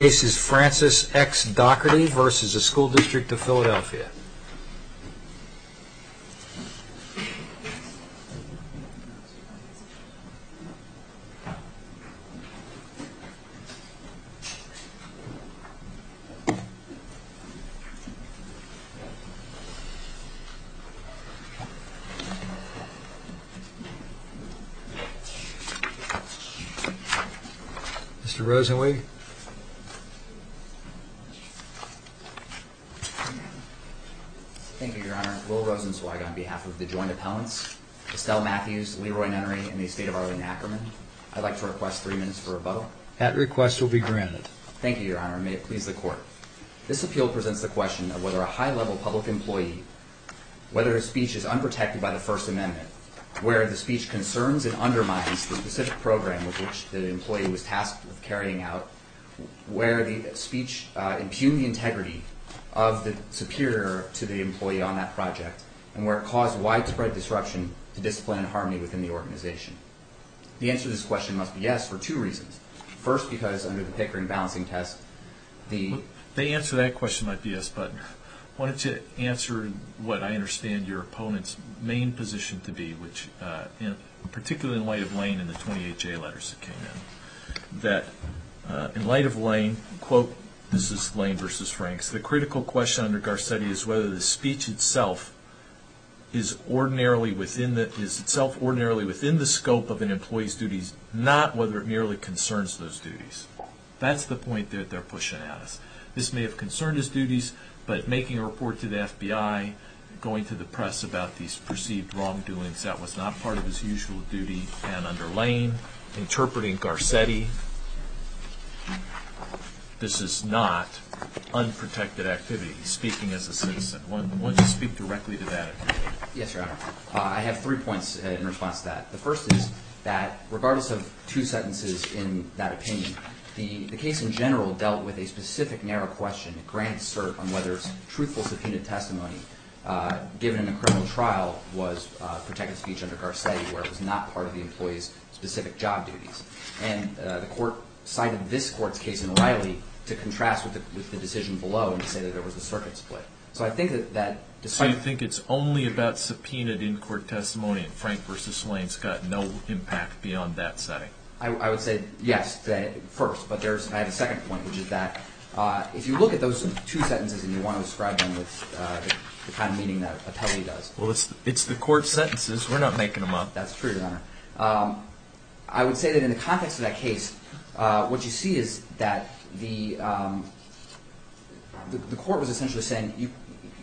This is Francis X. Doherty v. School Dist of Philadelphia. Mr. Rosenweig Thank you, Your Honor. Will Rosenzweig on the joint appellants, Estelle Matthews, Leroy Nennery, and the estate of Arlene Ackerman, I'd like to request three minutes for rebuttal. Mr. Rosenzweig At request will be granted. Mr. Rosenzweig Thank you, Your Honor. May it please the Court. This appeal presents the question of whether a high-level public employee, whether his speech is unprotected by the First Amendment, where the speech concerns and undermines the specific program with which the employee was tasked with carrying out, where the speech impugned the integrity of the superior to the employee on that project, and where it caused widespread disruption to discipline and harmony within the organization. The answer to this question must be yes for two reasons. First, because under the Pickering Balancing Test, the... Mr. McNerney The answer to that question might be yes, but I wanted to answer what I understand your opponent's main position to be, which, particularly in light of Lane and the 28J letters that came in, that in light of Lane, quote, this is Lane v. Franks, the critical question under Garcetti is whether the speech itself is unprotected and is itself ordinarily within the scope of an employee's duties, not whether it merely concerns those duties. That's the point that they're pushing at us. This may have concerned his duties, but making a report to the FBI, going to the press about these perceived wrongdoings that was not part of his usual duty, and under Lane, interpreting Garcetti, this is not unprotected activity. He's speaking as a citizen. Why don't you speak directly to that, if you will? Mr. McNerney Yes, Your Honor. I have three points in response to that. The first is that, regardless of two sentences in that opinion, the case in general dealt with a specific narrow question, granted cert, on whether truthful subpoenaed testimony given in a criminal trial was protected speech under Garcetti where it was not part of the employee's specific job duties. And the court cited this court's case in Riley to contrast with the decision below and to say that there was a circuit split. So I think that that despite- Mr. McNerney So you think it's only about subpoenaed in court testimony, and Frank v. Lane's got no impact beyond that setting? Mr. McNerney I would say, yes, first. But I have a second point, which is that, if you look at those two sentences and you want to describe them with the kind of meaning that a penalty does- Mr. McNerney Well, it's the court's sentences. We're not making them up. Mr. McNerney That's true, Your Honor. I would say that in the context of that case, what you see is that the court was essentially saying,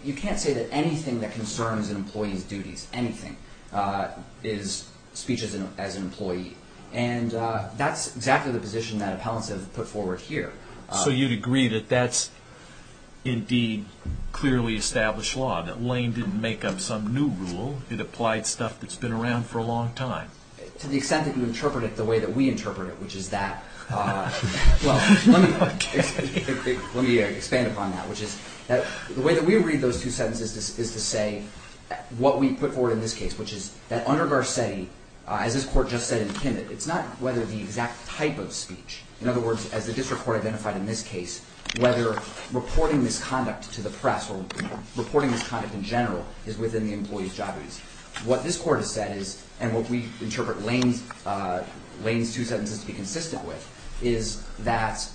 you can't say that anything that concerns an employee's duties, anything, is speech as an employee. And that's exactly the position that appellants have put forward here. Mr. McNerney So you'd agree that that's indeed clearly established law, that Lane didn't make up some new rule. It applied stuff that's been around for a long time? Mr. McNerney To the extent that you interpret it the way that we interpret it, which is that, well, let me expand upon that, which is that the way that we read those two sentences is to say what we put forward in this case, which is that under Garcetti, as this court just said in Pinnit, it's not whether the exact type of speech, in other words, as the district court identified in this case, whether reporting misconduct to the press or reporting misconduct in general is within the employee's job duties. What this court has said is, and what we interpret Lane's two sentences to be consistent with, is that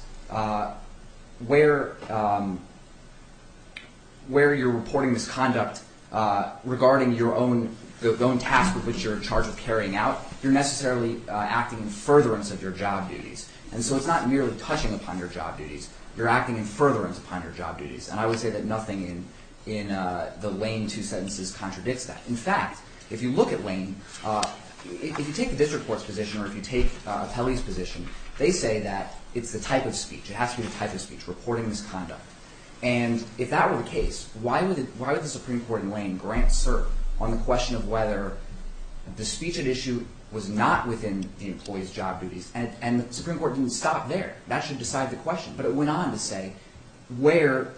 where you're reporting misconduct regarding your own task with which you're in charge of carrying out, you're necessarily acting in furtherance of your job duties. And so it's not merely touching upon your job duties. You're acting in furtherance upon your job duties. And I would say that nothing in the Lane two sentences contradicts that. In fact, if you look at Lane, if you take the district court's position or if you take Pelley's position, they say that it's the type of speech, it has to be the type of speech, reporting misconduct. And if that were the case, why would the Supreme Court in Lane grant cert on the question of whether the speech at issue was not within the employee's job duties? And the Supreme Court didn't stop there. That should decide the question. But it went on to say where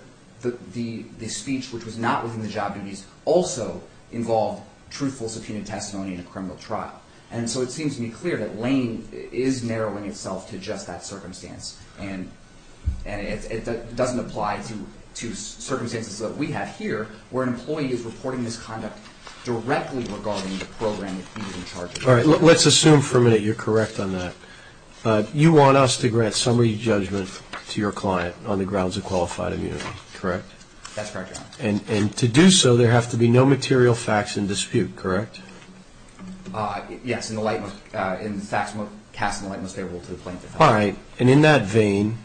the speech which was not within the job duties also involved truthful subpoenaed testimony in a criminal trial. And so it seems to me clear that Lane is narrowing itself to just that circumstance. And it doesn't apply to circumstances that we have here, where an employee is reporting misconduct directly regarding the program that he was in charge of. Let's assume for a minute you're correct on that. You want us to grant summary judgment to your client on the grounds of qualified immunity, correct? That's correct, Your Honor. And to do so, there have to be no material facts in dispute, correct? Yes, and the facts won't cast the light most favorable to the plaintiff. All right. And in that vein,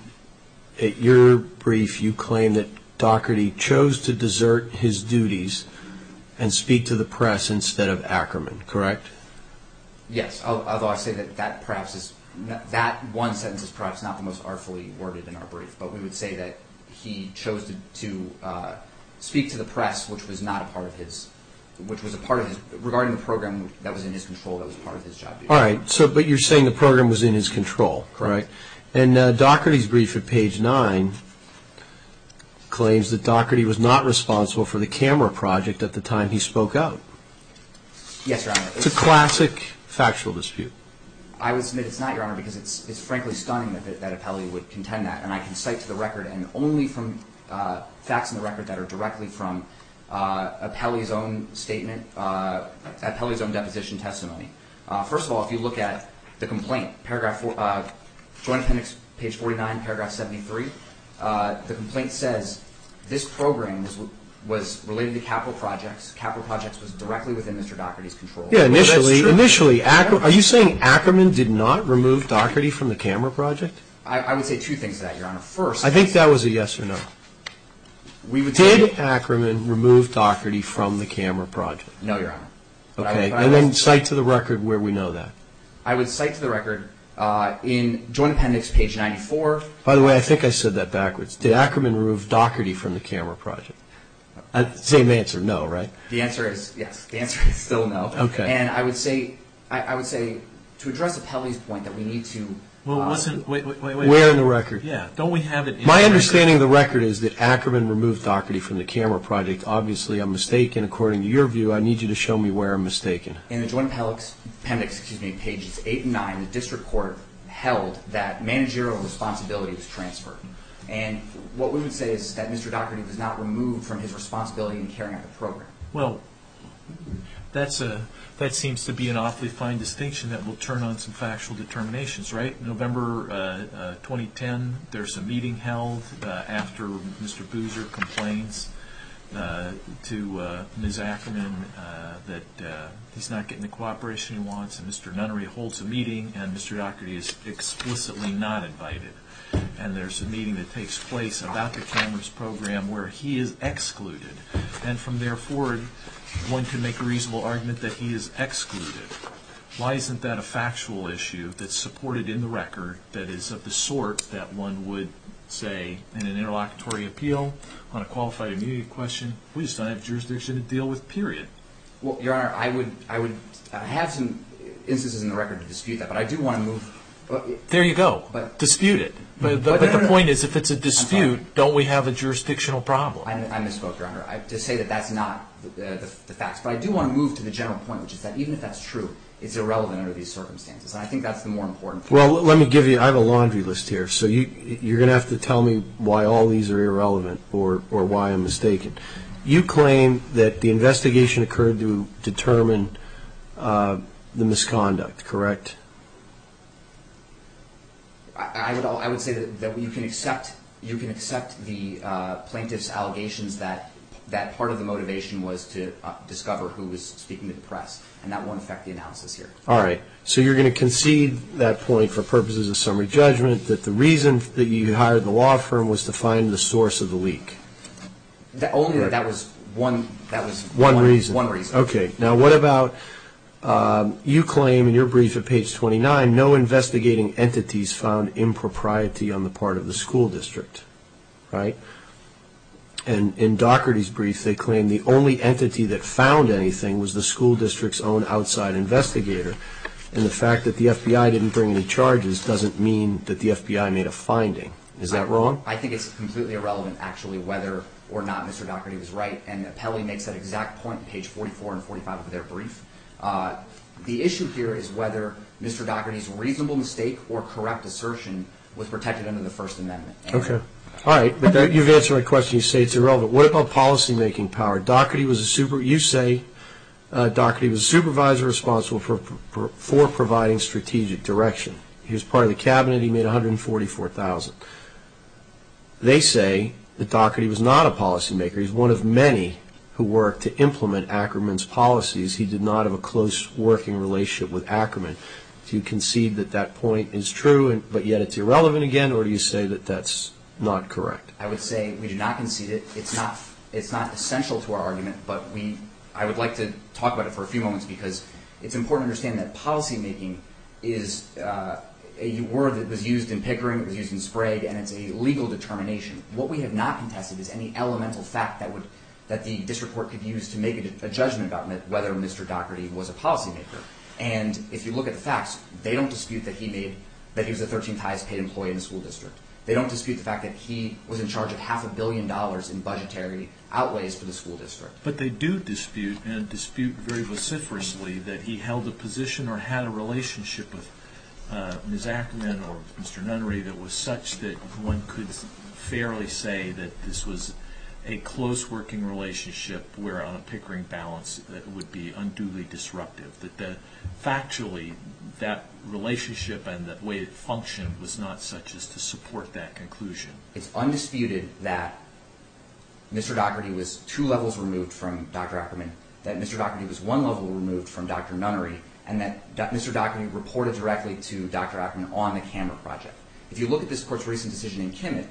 at your brief, you claim that Daugherty chose to desert his duties and speak to the press instead of Ackerman, correct? Yes, although I say that that perhaps is, that one sentence is perhaps not the most artfully worded in our brief. But we would say that he chose to speak to the press, which was not a part of his, which was a part of his, regarding the program that was in his control, that was part of his job duties. All right. So, but you're saying the program was in his control, correct? Correct. And Daugherty's brief at page 9 claims that Daugherty was not responsible for the camera project at the time he spoke out. Yes, Your Honor. It's a classic factual dispute. I would submit it's not, Your Honor, because it's frankly stunning that Appelli would contend that. And I can cite to the record, and only from facts in the record that are directly from Appelli's own statement, Appelli's own deposition testimony. First of all, if you look at the complaint, Joint Appendix page 49, paragraph 73, the complaint says this program was related to capital projects, capital projects was directly within Mr. Daugherty's control. Well, that's true. Initially, are you saying Ackerman did not remove Daugherty from the camera project? I would say two things to that, Your Honor. First... I think that was a yes or no. We would say... Did Ackerman remove Daugherty from the camera project? No, Your Honor. Okay. And then cite to the record where we know that. I would cite to the record in Joint Appendix page 94... By the way, I think I said that backwards. Did Ackerman remove Daugherty from the camera project? Same answer, no, right? The answer is yes. The answer is still no. Okay. And I would say to address Appellee's point that we need to... Wait, wait, wait. Where in the record? Yeah, don't we have it in the record? My understanding of the record is that Ackerman removed Daugherty from the camera project. Obviously, I'm mistaken. According to your view, I need you to show me where I'm mistaken. In the Joint Appendix, excuse me, pages 8 and 9, the District Court held that managerial responsibility was transferred. And what we would say is that Mr. Daugherty was not removed from his responsibility in carrying out the program. Well, that seems to be an awfully fine distinction that will turn on some factual determinations, right? November 2010, there's a meeting held after Mr. Boozer complains to Ms. Ackerman that he's not getting the cooperation he wants, and Mr. Nunnery holds a meeting, and Mr. Daugherty is explicitly not invited. And there's a meeting that takes place about the cameras program where he is excluded. And from there forward, one can make a reasonable argument that he is excluded. Why isn't that a factual issue that's supported in the record that is of the sort that one would say in an interlocutory appeal on a qualified immunity question, we just don't have jurisdiction to deal with, period. Well, Your Honor, I would have some instances in the record to dispute that, but I do want to move... There you go. Dispute it. But the point is, if it's a dispute, don't we have a jurisdictional problem? I misspoke, Your Honor. To say that that's not the facts. But I do want to move to the general point, which is that even if that's true, it's irrelevant under these circumstances. And I think that's the more important thing. Well, let me give you... I have a laundry list here, so you're going to have to tell me why all these are irrelevant or why I'm mistaken. You claim that the investigation occurred to determine the misconduct, correct? I would say that you can accept the plaintiff's allegations that that part of the motivation was to discover who was speaking to the press, and that won't affect the analysis here. All right. So you're going to concede that point for purposes of summary judgment that the reason that you hired the law firm was to find the source of the leak? Only that that was one... One reason? Okay. Now, what about you claim in your brief at Page Six that the plaintiff in Page 29, no investigating entities found impropriety on the part of the school district, right? And in Dougherty's brief, they claim the only entity that found anything was the school district's own outside investigator. And the fact that the FBI didn't bring any charges doesn't mean that the FBI made a finding. Is that wrong? I think it's completely irrelevant, actually, whether or not Mr. Dougherty was right. And Pelley makes that exact point on Page 44 and 45 of their brief. The issue here is whether Mr. Dougherty's reasonable mistake or correct assertion was protected under the First Amendment. Okay. All right. But you've answered my question. You say it's irrelevant. What about policymaking power? You say Dougherty was a supervisor responsible for providing strategic direction. He was part of the cabinet. He made $144,000. They say that Dougherty was not a policymaker. He's one of many who worked to implement Ackerman's policies. He did not have a close working relationship with Ackerman. Do you concede that that point is true, but yet it's irrelevant again? Or do you say that that's not correct? I would say we do not concede it. It's not essential to our argument, but I would like to talk about it for a few moments because it's important to understand that policymaking is a word that was used in Pickering, it was used in Sprague, and it's a legal determination. What we have not contested is any elemental fact that the district court could use to make a judgment about whether Mr. Dougherty was a policymaker. And if you look at the facts, they don't dispute that he was the 13th highest paid employee in the school district. They don't dispute the fact that he was in charge of half a billion dollars in budgetary outweighs for the school district. But they do dispute, and dispute very vociferously, that he held a position or had a relationship with Ms. Ackerman or Mr. Nunnery that was fairly say that this was a close working relationship where on a Pickering balance that it would be unduly disruptive. That factually, that relationship and the way it functioned was not such as to support that conclusion. It's undisputed that Mr. Dougherty was two levels removed from Dr. Ackerman, that Mr. Dougherty was one level removed from Dr. Nunnery, and that Mr. Dougherty reported directly to Dr. Ackerman on the camera project. If you look at this court's recent decision in Kimmitt,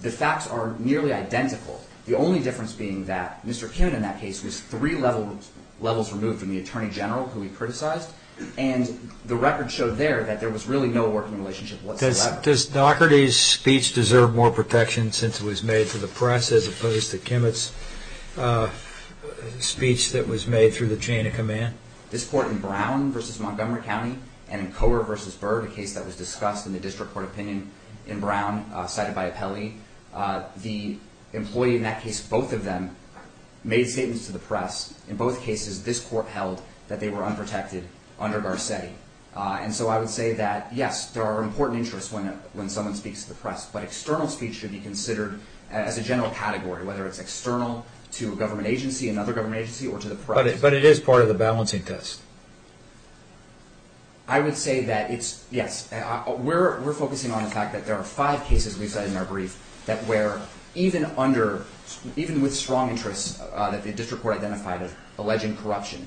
the facts are nearly identical. The only difference being that Mr. Kimmitt in that case was three levels removed from the Attorney General who he criticized, and the record showed there that there was really no working relationship whatsoever. Does Dougherty's speech deserve more protection since it was made to the press as opposed to Kimmitt's speech that was made through the chain of command? This court in Brown v. Montgomery County and in Coer v. Bird, a case that was discussed in the district court opinion in Brown cited by Apelli, the employee in that case, both of them, made statements to the press. In both cases, this court held that they were unprotected under Garcetti. And so I would say that, yes, there are important interests when someone speaks to the press, but external speech should be considered as a general category, whether it's external to a government agency, another government agency, or to the press. But it is part of the balancing test. I would say that it's, yes, we're focusing on the fact that there are five cases we've cited in our brief that were, even under, even with strong interests that the district court identified of alleging corruption,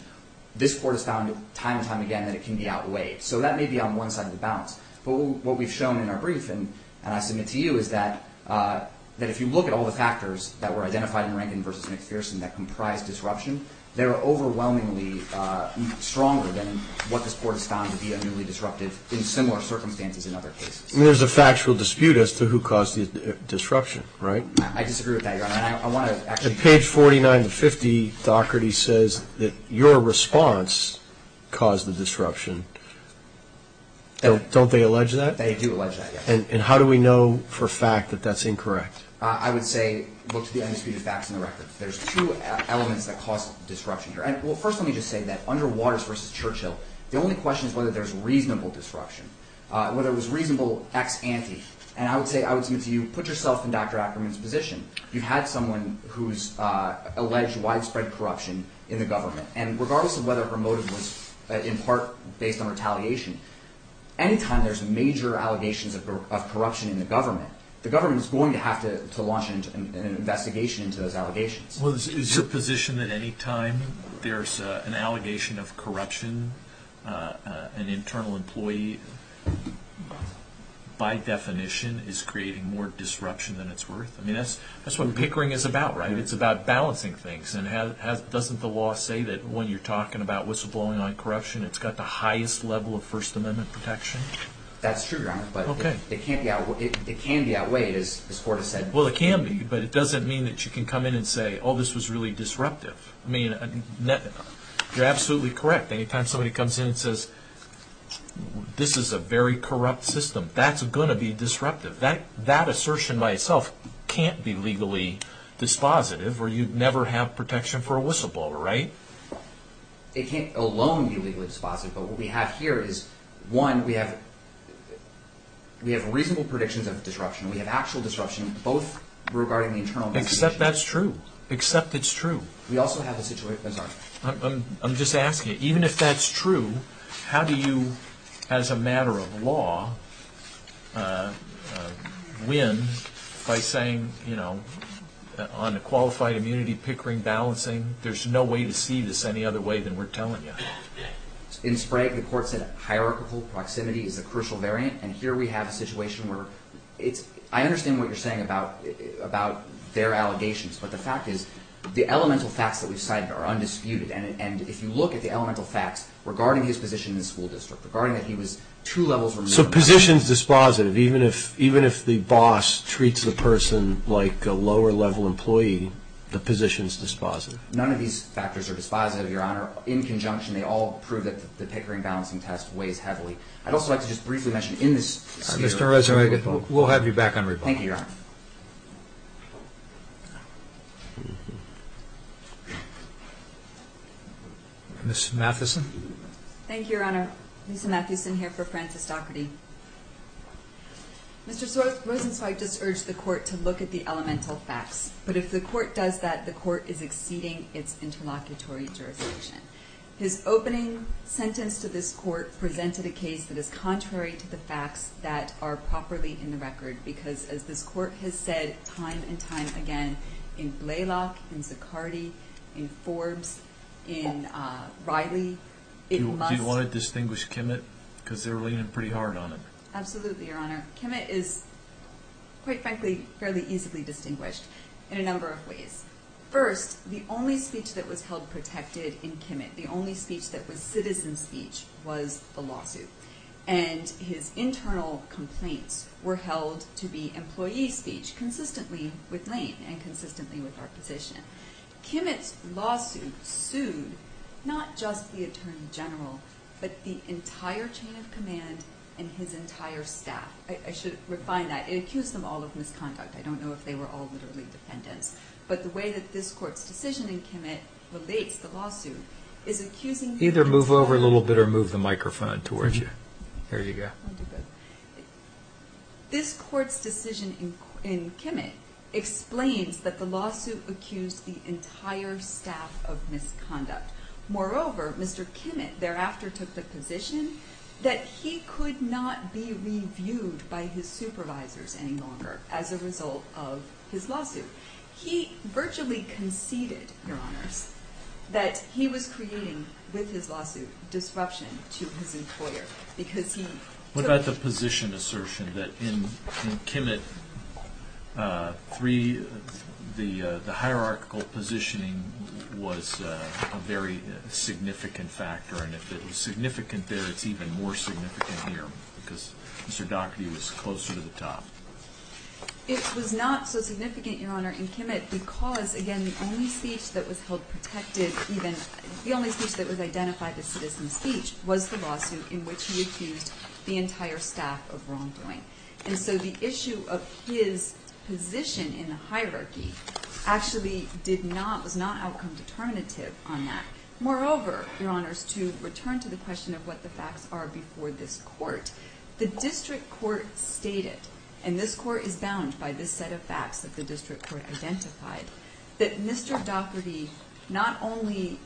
this court has found time and time again that it can be outweighed. So that may be on one side of the balance. But what we've shown in our brief, and I submit to you, is that if you look at all the factors that were identified in Rankin v. McPherson that comprised disruption, there are overwhelmingly stronger than what this court has found to be unnewly disruptive in similar circumstances in other cases. I mean, there's a factual dispute as to who caused the disruption, right? I disagree with that, Your Honor. I want to actually... At page 49 to 50, Doherty says that your response caused the disruption. Don't they allege that? They do allege that, yes. And how do we know for a fact that that's incorrect? I would say, look to the undisputed facts in the record. There's two elements that caused the disruption here. First, let me just say that Underwaters v. Churchill, the only question is whether there's reasonable disruption, whether it was reasonable ex-ante. And I would say, I would submit to you, put yourself in Dr. Ackerman's position. You had someone who's alleged widespread corruption in the government. And regardless of whether or not it was in part based on retaliation, any time there's major allegations of corruption in the into those allegations. Is your position that any time there's an allegation of corruption, an internal employee, by definition, is creating more disruption than it's worth? I mean, that's what pickering is about, right? It's about balancing things. And doesn't the law say that when you're talking about what's going on in corruption, it's got the highest level of First Amendment protection? That's true, Your Honor. Okay. But it can be outweighed, as the Court has said. Well, it can be. But it doesn't mean that you can come in and say, oh, this was really disruptive. I mean, you're absolutely correct. Any time somebody comes in and says, this is a very corrupt system, that's going to be disruptive. That assertion by itself can't be legally dispositive, or you'd never have protection for a whistleblower, right? It can't alone be legally dispositive. But what we have here is, one, we have reasonable predictions of disruption. We have actual disruption, both regarding the internal investigation. Except that's true. Except it's true. We also have a situation, Your Honor. I'm just asking you, even if that's true, how do you, as a matter of law, win by saying, you know, on a qualified immunity, pickering, balancing, there's no way to see this any other way than we're telling you. In Sprague, the Court said hierarchical proximity is a crucial variant, and here we have a situation where it's, I understand what you're saying about their allegations, but the fact is, the elemental facts that we've cited are undisputed. And if you look at the elemental facts regarding his position in the school district, regarding that he was two levels removed from the school district. So position's dispositive. Even if the boss treats the person like a lower-level employee, the position's dispositive. None of these factors are dispositive, Your Honor. In conjunction, they all prove that the pickering, balancing test weighs heavily. I'd also like to just briefly mention in this case... Mr. Rosenzweig, we'll have you back on report. Thank you, Your Honor. Ms. Matheson. Thank you, Your Honor. Lisa Matheson here for Frances Docherty. Mr. Rosenzweig just urged the Court to look at the elemental facts, but if the Court does that, the Court is exceeding its interlocutory jurisdiction. His opening sentence to this Court presented a case that is contrary to the facts that are properly in the record, because as this Court has said time and time again, in Blalock, in Zicardi, in Forbes, in Riley, in... Do you want to distinguish Kimmitt? Because they're leaning pretty hard on him. Absolutely, Your Honor. number of ways. First, the only speech that was held protected in Kimmitt, the only speech that was citizen speech, was the lawsuit. And his internal complaints were held to be employee speech, consistently with Lane and consistently with our position. Kimmitt's lawsuit sued not just the Attorney General, but the entire chain of command and his entire staff. I should refine that. It accused them all of misconduct. I don't know if they were all literally defendants. But the way that this Court's decision in Kimmitt relates the lawsuit is accusing... Either move over a little bit or move the microphone towards you. There you go. This Court's decision in Kimmitt explains that the lawsuit accused the entire staff of misconduct. Moreover, Mr. Kimmitt thereafter took the position that he could not be reviewed by his supervisors any longer as a result of his lawsuit. He virtually conceded, Your Honors, that he was creating, with his lawsuit, disruption to his employer because he took... What about the position assertion that in Kimmitt 3, the hierarchical positioning was a very significant factor? And if it was significant there, it's even more significant here because Mr. Dougherty was closer to the top. It was not so significant, Your Honor, in Kimmitt because, again, the only speech that was held protected even... The only speech that was identified as citizen speech was the lawsuit in which he accused the entire staff of wrongdoing. And so the issue of his position in the hierarchy actually did not... Was not outcome determinative on that. Moreover, Your Honors, to return to the question of what the facts are before this Court, the District Court stated, and this Court is bound by this set of facts that the District Court identified, that Mr. Dougherty not only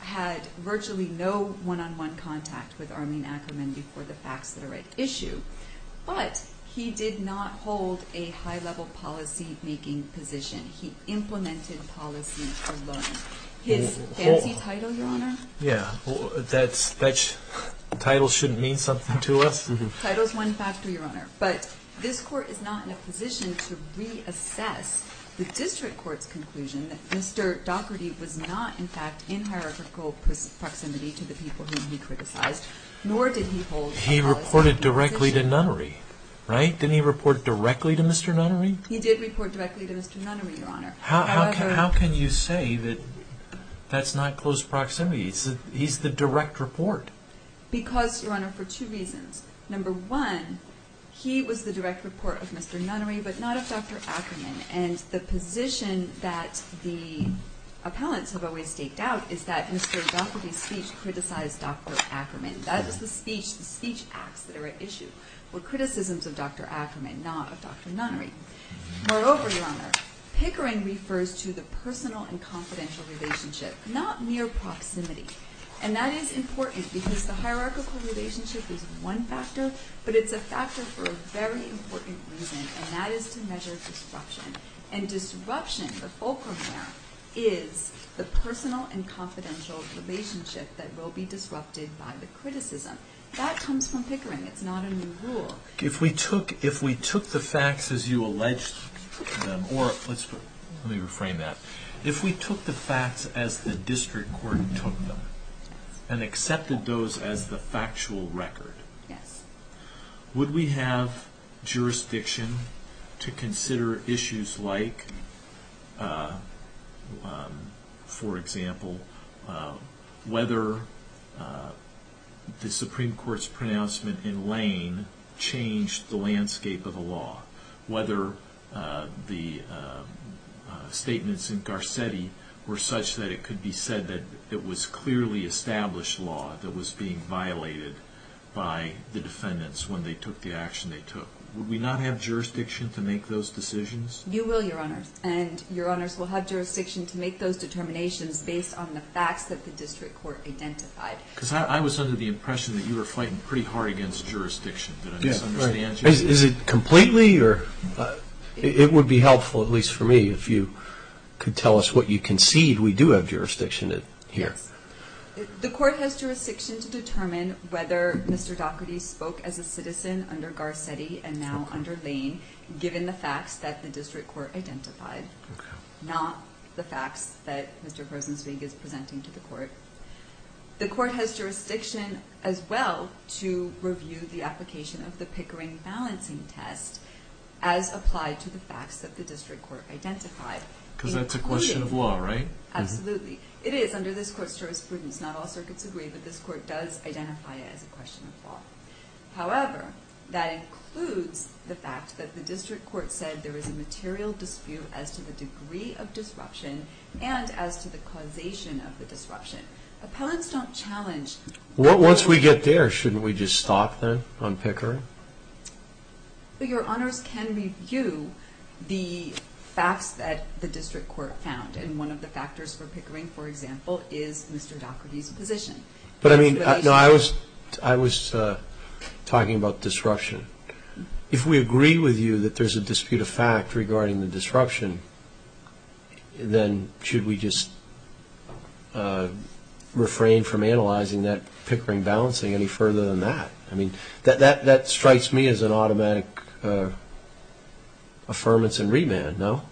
had virtually no one-on-one contact with Armin Ackerman before the facts that are at issue, but he did not hold a high-level policy-making position. He implemented policy alone. His fancy title, Your Honor... Yeah, that title shouldn't mean something to us. Title's one factor, Your Honor, but this Court is not in a position to reassess the District Court's conclusion that Mr. Dougherty was not, in fact, in hierarchical proximity to the people whom he criticized, nor did he hold... He reported directly to Nunnery, right? Didn't he report directly to Mr. Nunnery? He did report directly to Mr. Nunnery, Your Honor. However... How can you say that that's not close proximity? He's the direct report. Because, Your Honor, for two reasons. Number one, he was the direct report of Mr. Nunnery, but not of Dr. Ackerman, and the position that the appellants have always staked out is that Mr. Dougherty's speech criticized Dr. Ackerman. That is the speech, the speech acts that are at issue were criticisms of Dr. Ackerman, not of Dr. Nunnery. Moreover, Your Honor, Pickering refers to the personal and confidential relationship, not mere proximity, and that is important because the hierarchical relationship is one factor, but it's a factor for a very important reason, and that is to measure disruption. And disruption, the fulcrum there, is the personal and confidential relationship that will be disrupted by the criticism. That comes from Pickering. It's not a new rule. If we took... If we took the facts as you alleged them, or let's put... Let me reframe that. If we took the facts as the district court took them, and accepted those as the factual record, would we have jurisdiction to consider issues like, for example, whether the Supreme Court's pronouncement in Lane changed the landscape of the law? Whether the statements in Garcetti were such that it was clearly established law that was being violated by the defendants when they took the action they took? Would we not have jurisdiction to make those decisions? You will, Your Honor. And Your Honors will have jurisdiction to make those determinations based on the facts that the district court identified. Because I was under the impression that you were fighting pretty hard against jurisdiction. Did I misunderstand you? Is it completely, or... It would be helpful, at least for me, if you could tell us what you concede we do have jurisdictions. The court has jurisdiction to determine whether Mr. Daugherty spoke as a citizen under Garcetti and now under Lane, given the facts that the district court identified, not the facts that Mr. Rosenzweig is presenting to the court. The court has jurisdiction as well to review the application of the Pickering balancing test as applied to the facts that the district court identified. Because that's a question of law, right? Absolutely. It is under this court's jurisprudence. Not all circuits agree, but this court does identify it as a question of law. However, that includes the fact that the district court said there was a material dispute as to the degree of disruption and as to the causation of the disruption. Appellants don't challenge... Once we get there, shouldn't we just stop then on Pickering? Your Honors can review the facts that the district court found, and one of the factors for Pickering, for example, is Mr. Daugherty's position. But I mean, I was talking about disruption. If we agree with you that there's a dispute of fact regarding the disruption, then should we just refrain from analyzing that Pickering balancing any further than that? I mean, that strikes me as an automatic affirmance and remand, no?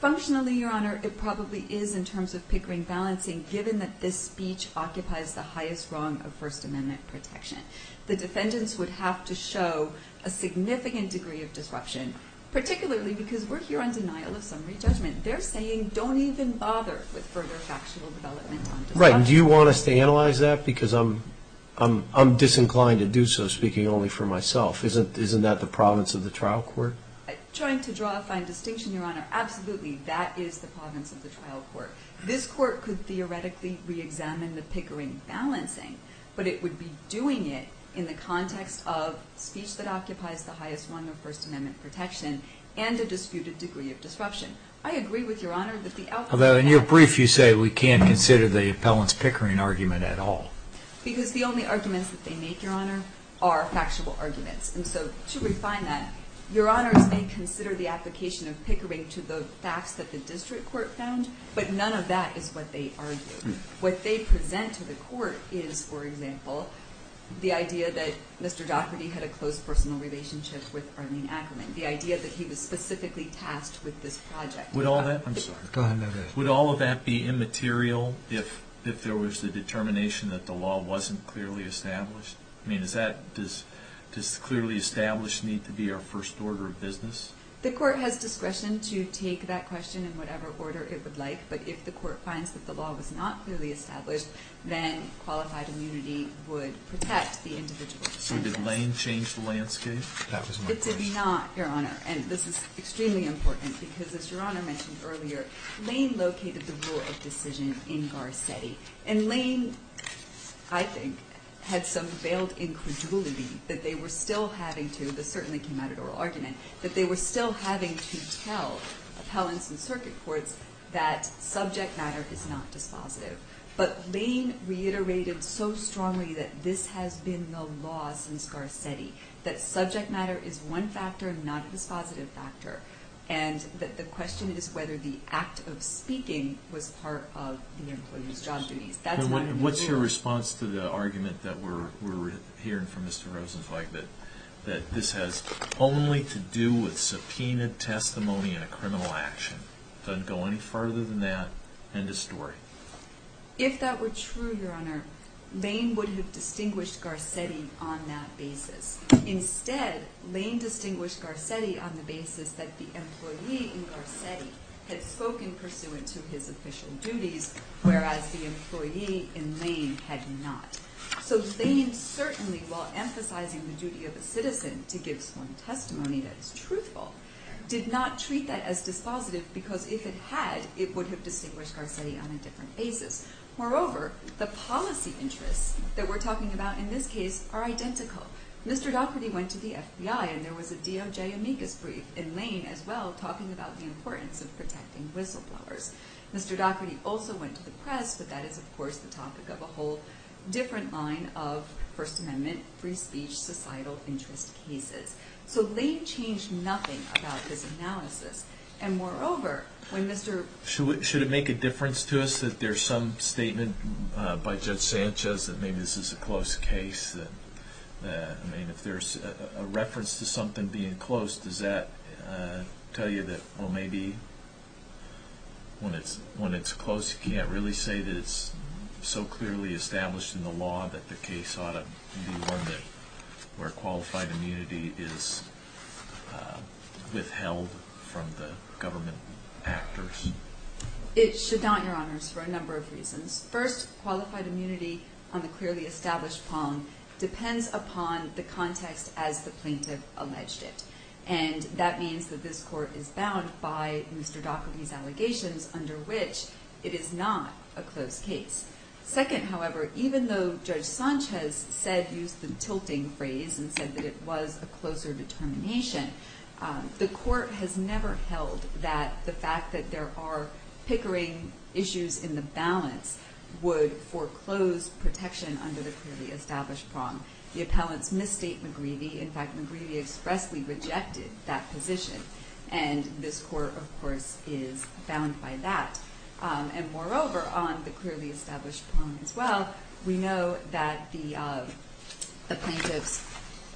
Functionally, Your Honor, it probably is in terms of Pickering balancing, given that this speech occupies the highest rung of First Amendment protection. The defendants would have to show a significant degree of disruption, particularly because we're here on denial of summary judgment. They're saying don't even bother with further factual development on disruption. Right, and do you want us to analyze that? Because I'm disinclined to do so, speaking only for myself. Isn't that the province of the trial court? Trying to draw a fine distinction, Your Honor, absolutely, that is the province of the trial court. This court could theoretically re-examine the Pickering balancing, but it would be doing it in the context of speech that occupies the highest rung of First Amendment protection and a disputed degree of disruption. I agree with Your Honor that the outcome of that Although in your brief you say we can't consider the appellant's Pickering argument at all. Because the only arguments that they make, Your Honor, are factual arguments. And so to refine that, Your Honors may consider the application of Pickering to the facts that the district court found. But none of that is what they argue. What they present to the court is, for example, the idea that Mr. Daugherty had a closed personal relationship with Arlene Ackerman. The idea that he was specifically tasked with this project. Would all of that be immaterial if there was the determination Does clearly established need to be our first order of business? The court has discretion to take that question in whatever order it would like. But if the court finds that the law was not clearly established, then qualified immunity would protect the individual. So did Lane change the landscape? That was my question. It did not, Your Honor. And this is extremely important. Because as Your Honor mentioned earlier, Lane located the rule of decision in Garcetti. And Lane, I think, had some veiled incredulity that they were still having to, this certainly came out at oral argument, that they were still having to tell appellants and circuit courts that subject matter is not dispositive. But Lane reiterated so strongly that this has been the law since Garcetti. That subject matter is one factor, not a dispositive factor. And that the question is whether the act of speaking was part of the employee's job duties. What's your response to the argument that we're hearing from Mr. Rosenzweig that this has only to do with subpoenaed testimony in a criminal action. It doesn't go any further than that. End of story. If that were true, Your Honor, Lane would have distinguished Garcetti on that basis. Instead, Lane distinguished Garcetti on the basis that the employee in Garcetti had spoken pursuant to his official duties, whereas the employee in Lane had not. So Lane certainly, while emphasizing the duty of a citizen to give sworn testimony that is truthful, did not treat that as dispositive, because if it had, it would have distinguished Garcetti on a different basis. Moreover, the policy interests that we're talking about in this case are identical. Mr. Daugherty went to the FBI, and there was a DOJ amicus brief in Lane as well, talking about the importance of protecting whistleblowers. Mr. Daugherty also went to the press, but that is, of course, the topic of a whole different line of First Amendment, free speech, societal interest cases. So Lane changed nothing about his analysis. And moreover, when Mr. Should it make a difference to us that there's some statement by Judge Sanchez that maybe this is a close case? I mean, if there's a reference to something being close, does that tell you that, well, maybe when it's close, you can't really say that it's so clearly established in the law that the case ought to be one where qualified immunity is withheld from the government actors? It should not, Your Honors, for a number of reasons. First, qualified immunity on the clearly established prong depends upon the context as the plaintiff alleged it. by Mr. Daugherty's allegations, under which it is not a close case. Second, however, even though Judge Sanchez said, used the tilting phrase, and said that it was a closer determination, the court has never held that the fact that there are pickering issues in the balance would foreclose protection under the clearly established prong. The appellants misstate McGreevy. In fact, McGreevy expressly rejected that position. And this court, of course, is bound by that. And moreover, on the clearly established prong as well, we know that the plaintiff's,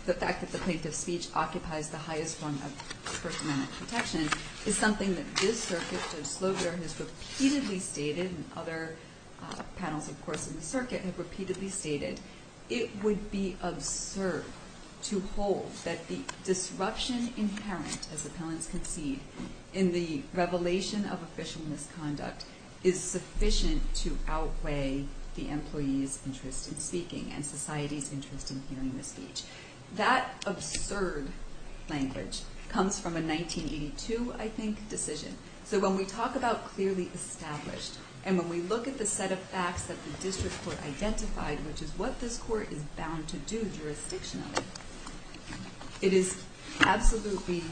the fact that the plaintiff's speech occupies the highest form of first-amendment protection is something that this circuit, Judge Slogar, has repeatedly stated, and other panels, of course, in the circuit have repeatedly stated. It would be absurd to hold that the disruption inherent as appellants concede in the revelation of official misconduct is sufficient to outweigh the employee's interest in speaking and society's interest in hearing the speech. That absurd language comes from a 1982, I think, decision. So when we talk about clearly established, and when we look at the set of facts that the district court identified, which is what this court is bound to do jurisdictionally, it is absolutely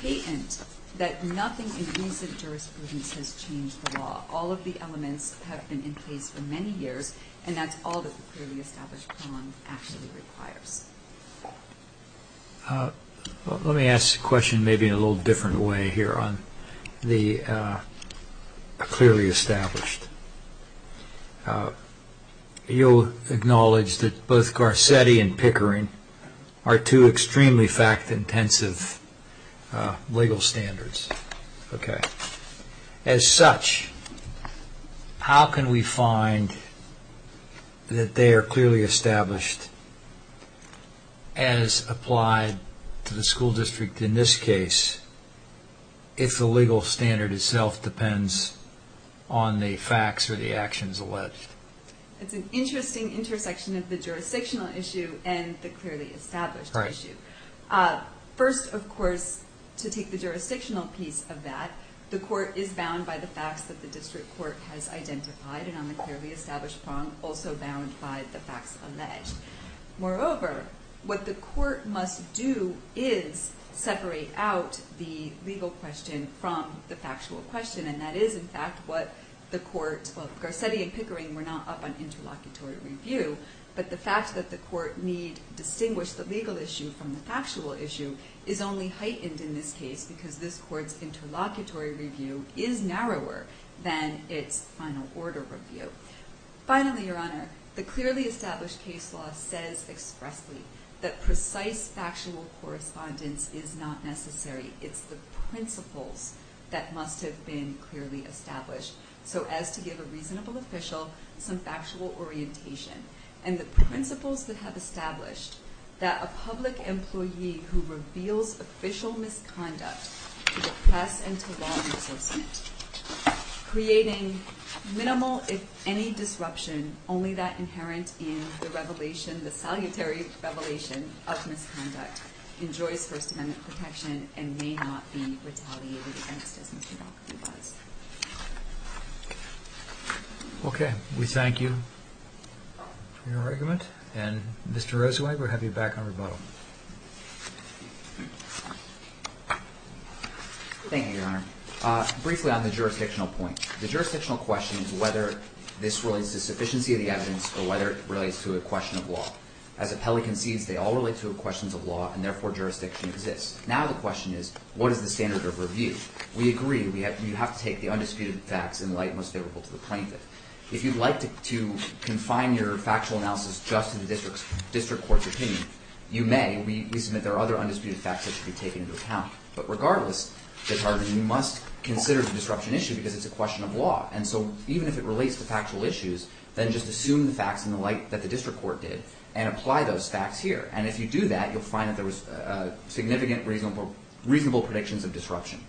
patent that nothing in recent jurisprudence has changed the law. All of the elements have been in place for many years, and that's all that the clearly established prong actually requires. Let me ask the question maybe in a little different way here on the clearly established. You'll acknowledge that both Garcetti and Pickering are two extremely fact-intensive legal standards. As such, how can we find that they are clearly established as applied to the school district in this case if the legal standard itself depends on the facts or the actions alleged? It's an interesting intersection of the jurisdictional issue and the clearly established issue. First, of course, to take the jurisdictional piece of that, the court is bound by the facts that the district court has identified and on the clearly established prong, also bound by the facts alleged. Moreover, what the court must do is separate out the legal question from the factual question, and that is, in fact, what the court... Well, Garcetti and Pickering were not up on interlocutory review, but the fact that the court need to distinguish the legal issue from the factual issue is only heightened in this case because this court's interlocutory review is narrower than its final order review. Finally, Your Honor, the clearly established case law says expressly that precise factual correspondence is not necessary. It's the principles that must have been clearly established. So as to give a reasonable official some factual orientation and the principles that have established that a public employee who reveals official misconduct to the press and to law enforcement, creating minimal, if any, disruption only that inherent in the revelation, the salutary revelation of misconduct, enjoys First Amendment protection and may not be retaliated against as Mr. Garcetti was. Okay. We thank you for your argument and, Mr. Roszweig, we'll have you back on rebuttal. Thank you, Your Honor. Briefly on the jurisdictional point. The jurisdictional question is whether this relates to sufficiency of the evidence or whether it relates to a question of law. As Appelli concedes, they all relate to questions of law and therefore jurisdiction exists. Now the question is, what is the standard of review? We agree. You have to take the undisputed facts in light most favorable to the plaintiff. If you'd like to confine your factual analysis just to the district court's opinion, you may. We submit there are other undisputed facts that should be taken into account. But regardless, you must consider the disruption issue because it's a question of law. And so even if it relates to factual issues, then just assume the facts in the light that the district court did and apply those facts here. And if you do that, you'll find that there was significant reasonable predictions of disruption.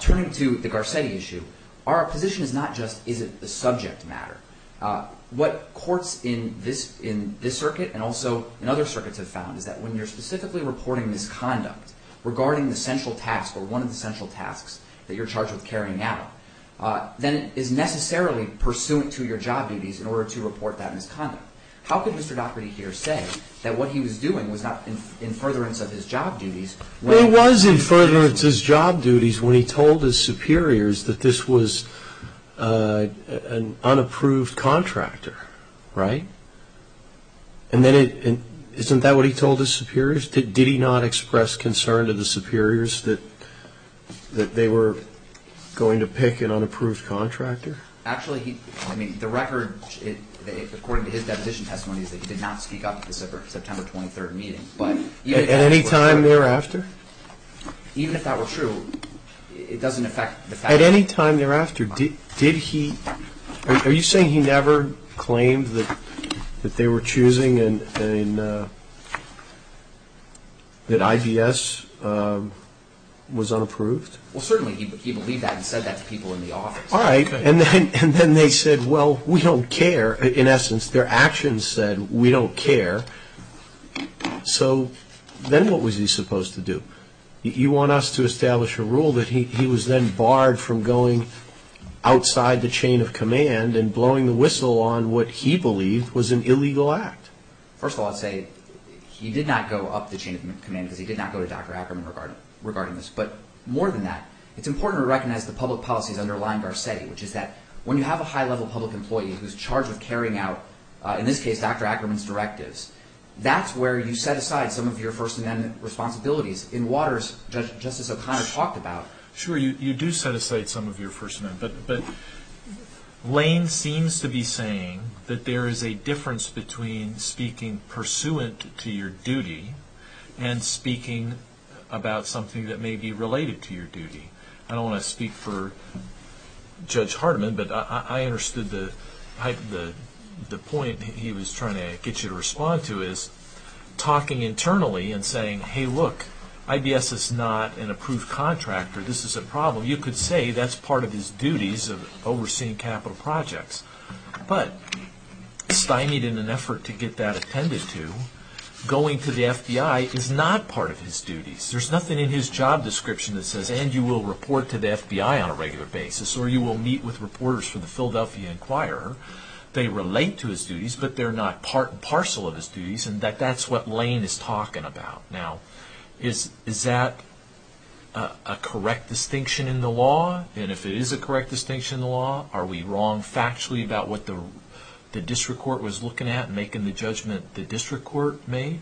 Turning to the Garcetti issue, our position is not just is it the subject matter. What courts in this circuit and also in other circuits have found is that when you're specifically reporting misconduct regarding the central task or one of the central tasks that you're charged with carrying out, then it is necessarily pursuant to your job duties in order to report that misconduct. How could Mr. Daugherty here say that what he was doing was not in furtherance of his job duties? Well, it was in furtherance of his job duties when he told his superiors that this was an unapproved contractor. Right? And isn't that what he told his superiors? Did he not express concern to the superiors that they were going to pick an unapproved contractor? Actually, the record according to his deposition testimony is that he did not speak up at the September 23rd meeting. At any time thereafter? Even if that were true, it doesn't affect the facts. At any time thereafter, are you saying he never claimed that they were choosing and that IBS was unapproved? Well, certainly he believed that and said that to people in the office. Alright, and then they said well, we don't care. In essence, their actions said, we don't care. So, then what was he supposed to do? You want us to establish a rule that he was then barred from going outside the chain of command and blowing the whistle on what he believed was an illegal act? First of all, I'd say he did not go up the chain of command because he did not go to Dr. Ackerman regarding this, but more than that, it's important to recognize the public policies underlying Garcetti which is that when you have a high-level public employee who's charged with carrying out in this case, Dr. Ackerman's directives, that's where you set aside some of your First Amendment responsibilities. In Waters, Justice O'Connor talked about Sure, you do set aside some of your First Amendment, but Lane seems to be saying that there is a difference between speaking pursuant to your duty and speaking about something that may be I don't want to speak for Judge Hardiman, but I understood the point he was trying to get you to respond to is talking internally and saying, hey look, IBS is not an approved contractor this is a problem. You could say that's part of his duties of overseeing capital projects, but Stein needed an effort to get that attended to going to the FBI is not part of his duties. There's nothing in his job description that says, and you will report to the FBI on a regular basis, or you will meet with reporters for the Philadelphia Inquirer they relate to his duties but they're not part and parcel of his duties and that's what Lane is talking about. Now, is that a correct distinction in the law? And if it is a correct distinction in the law, are we wrong factually about what the district court was looking at and making the judgment the district court made?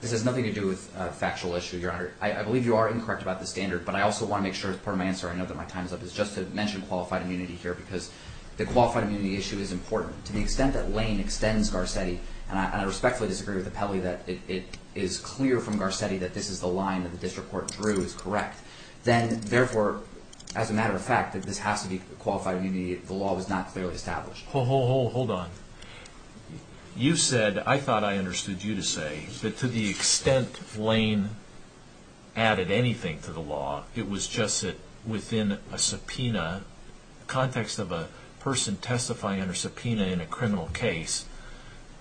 This has nothing to do with factual issue, your honor. I believe you are incorrect about the standard, but I also want to make sure as part of my answer I know that my time's up, is just to mention qualified immunity here because the qualified immunity issue is important. To the extent that Lane extends Garcetti, and I respectfully disagree with Apelli that it is clear from Garcetti that this is the line that the district court drew is correct, then therefore, as a matter of fact, this has to be qualified immunity. The law was not clearly established. Hold on. You said I thought I understood you to say that to the extent Lane added anything to the law, it was just that within a subpoena, context of a person testifying under subpoena in a criminal case,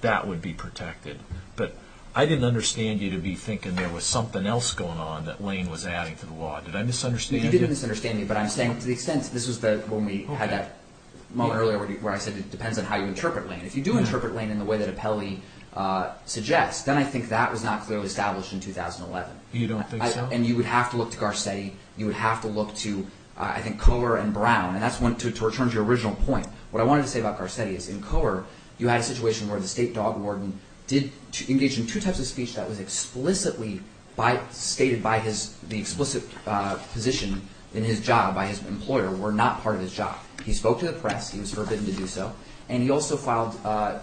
that would be protected. But I didn't understand you to be thinking there was something else going on that Lane was adding to the law. Did I misunderstand you? You didn't misunderstand me, but I'm saying to the extent this was when we had that moment earlier where I said it depends on how you interpret Lane. If you do interpret Lane in the way that Apelli suggests, then I think that was not clearly established in 2011. You don't think so? And you would have to look to Garcetti. You would have to look to I think Kohler and Brown, and that's one to return to your original point. What I wanted to say about Garcetti is in Kohler, you had a situation where the state dog warden did engage in two types of speech that was explicitly stated by the explicit position in his job by his employer were not part of his job. He spoke to the press. He was forbidden to do so, and he also filed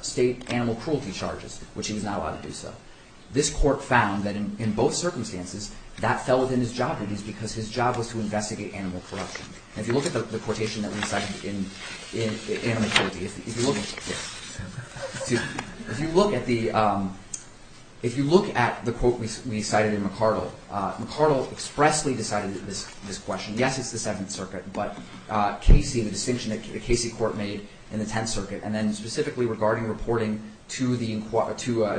state animal cruelty charges which he was not allowed to do so. This court found that in both circumstances that fell within his job duties because his job was to investigate animal corruption. If you look at the quotation that we cited in If you look If you look at the If you look at the quote we cited in McArdle McArdle expressly decided this question. Yes, it's the Seventh Circuit, but Casey, the distinction that Casey court made in the Tenth Circuit, and then specifically regarding reporting to the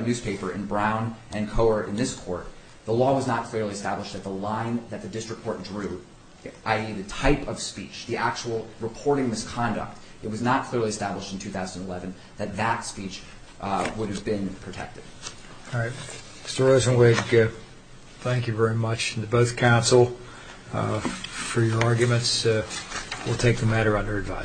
newspaper in Brown and Kohler in this court, the law was not clearly established that the line that the district court drew, i.e. the type of speech, the actual reporting misconduct, it was not clearly established in 2011 that that speech would have been protected. Mr. Rosenwig, thank you very much to both counsel for your arguments. We'll take the matter under advice.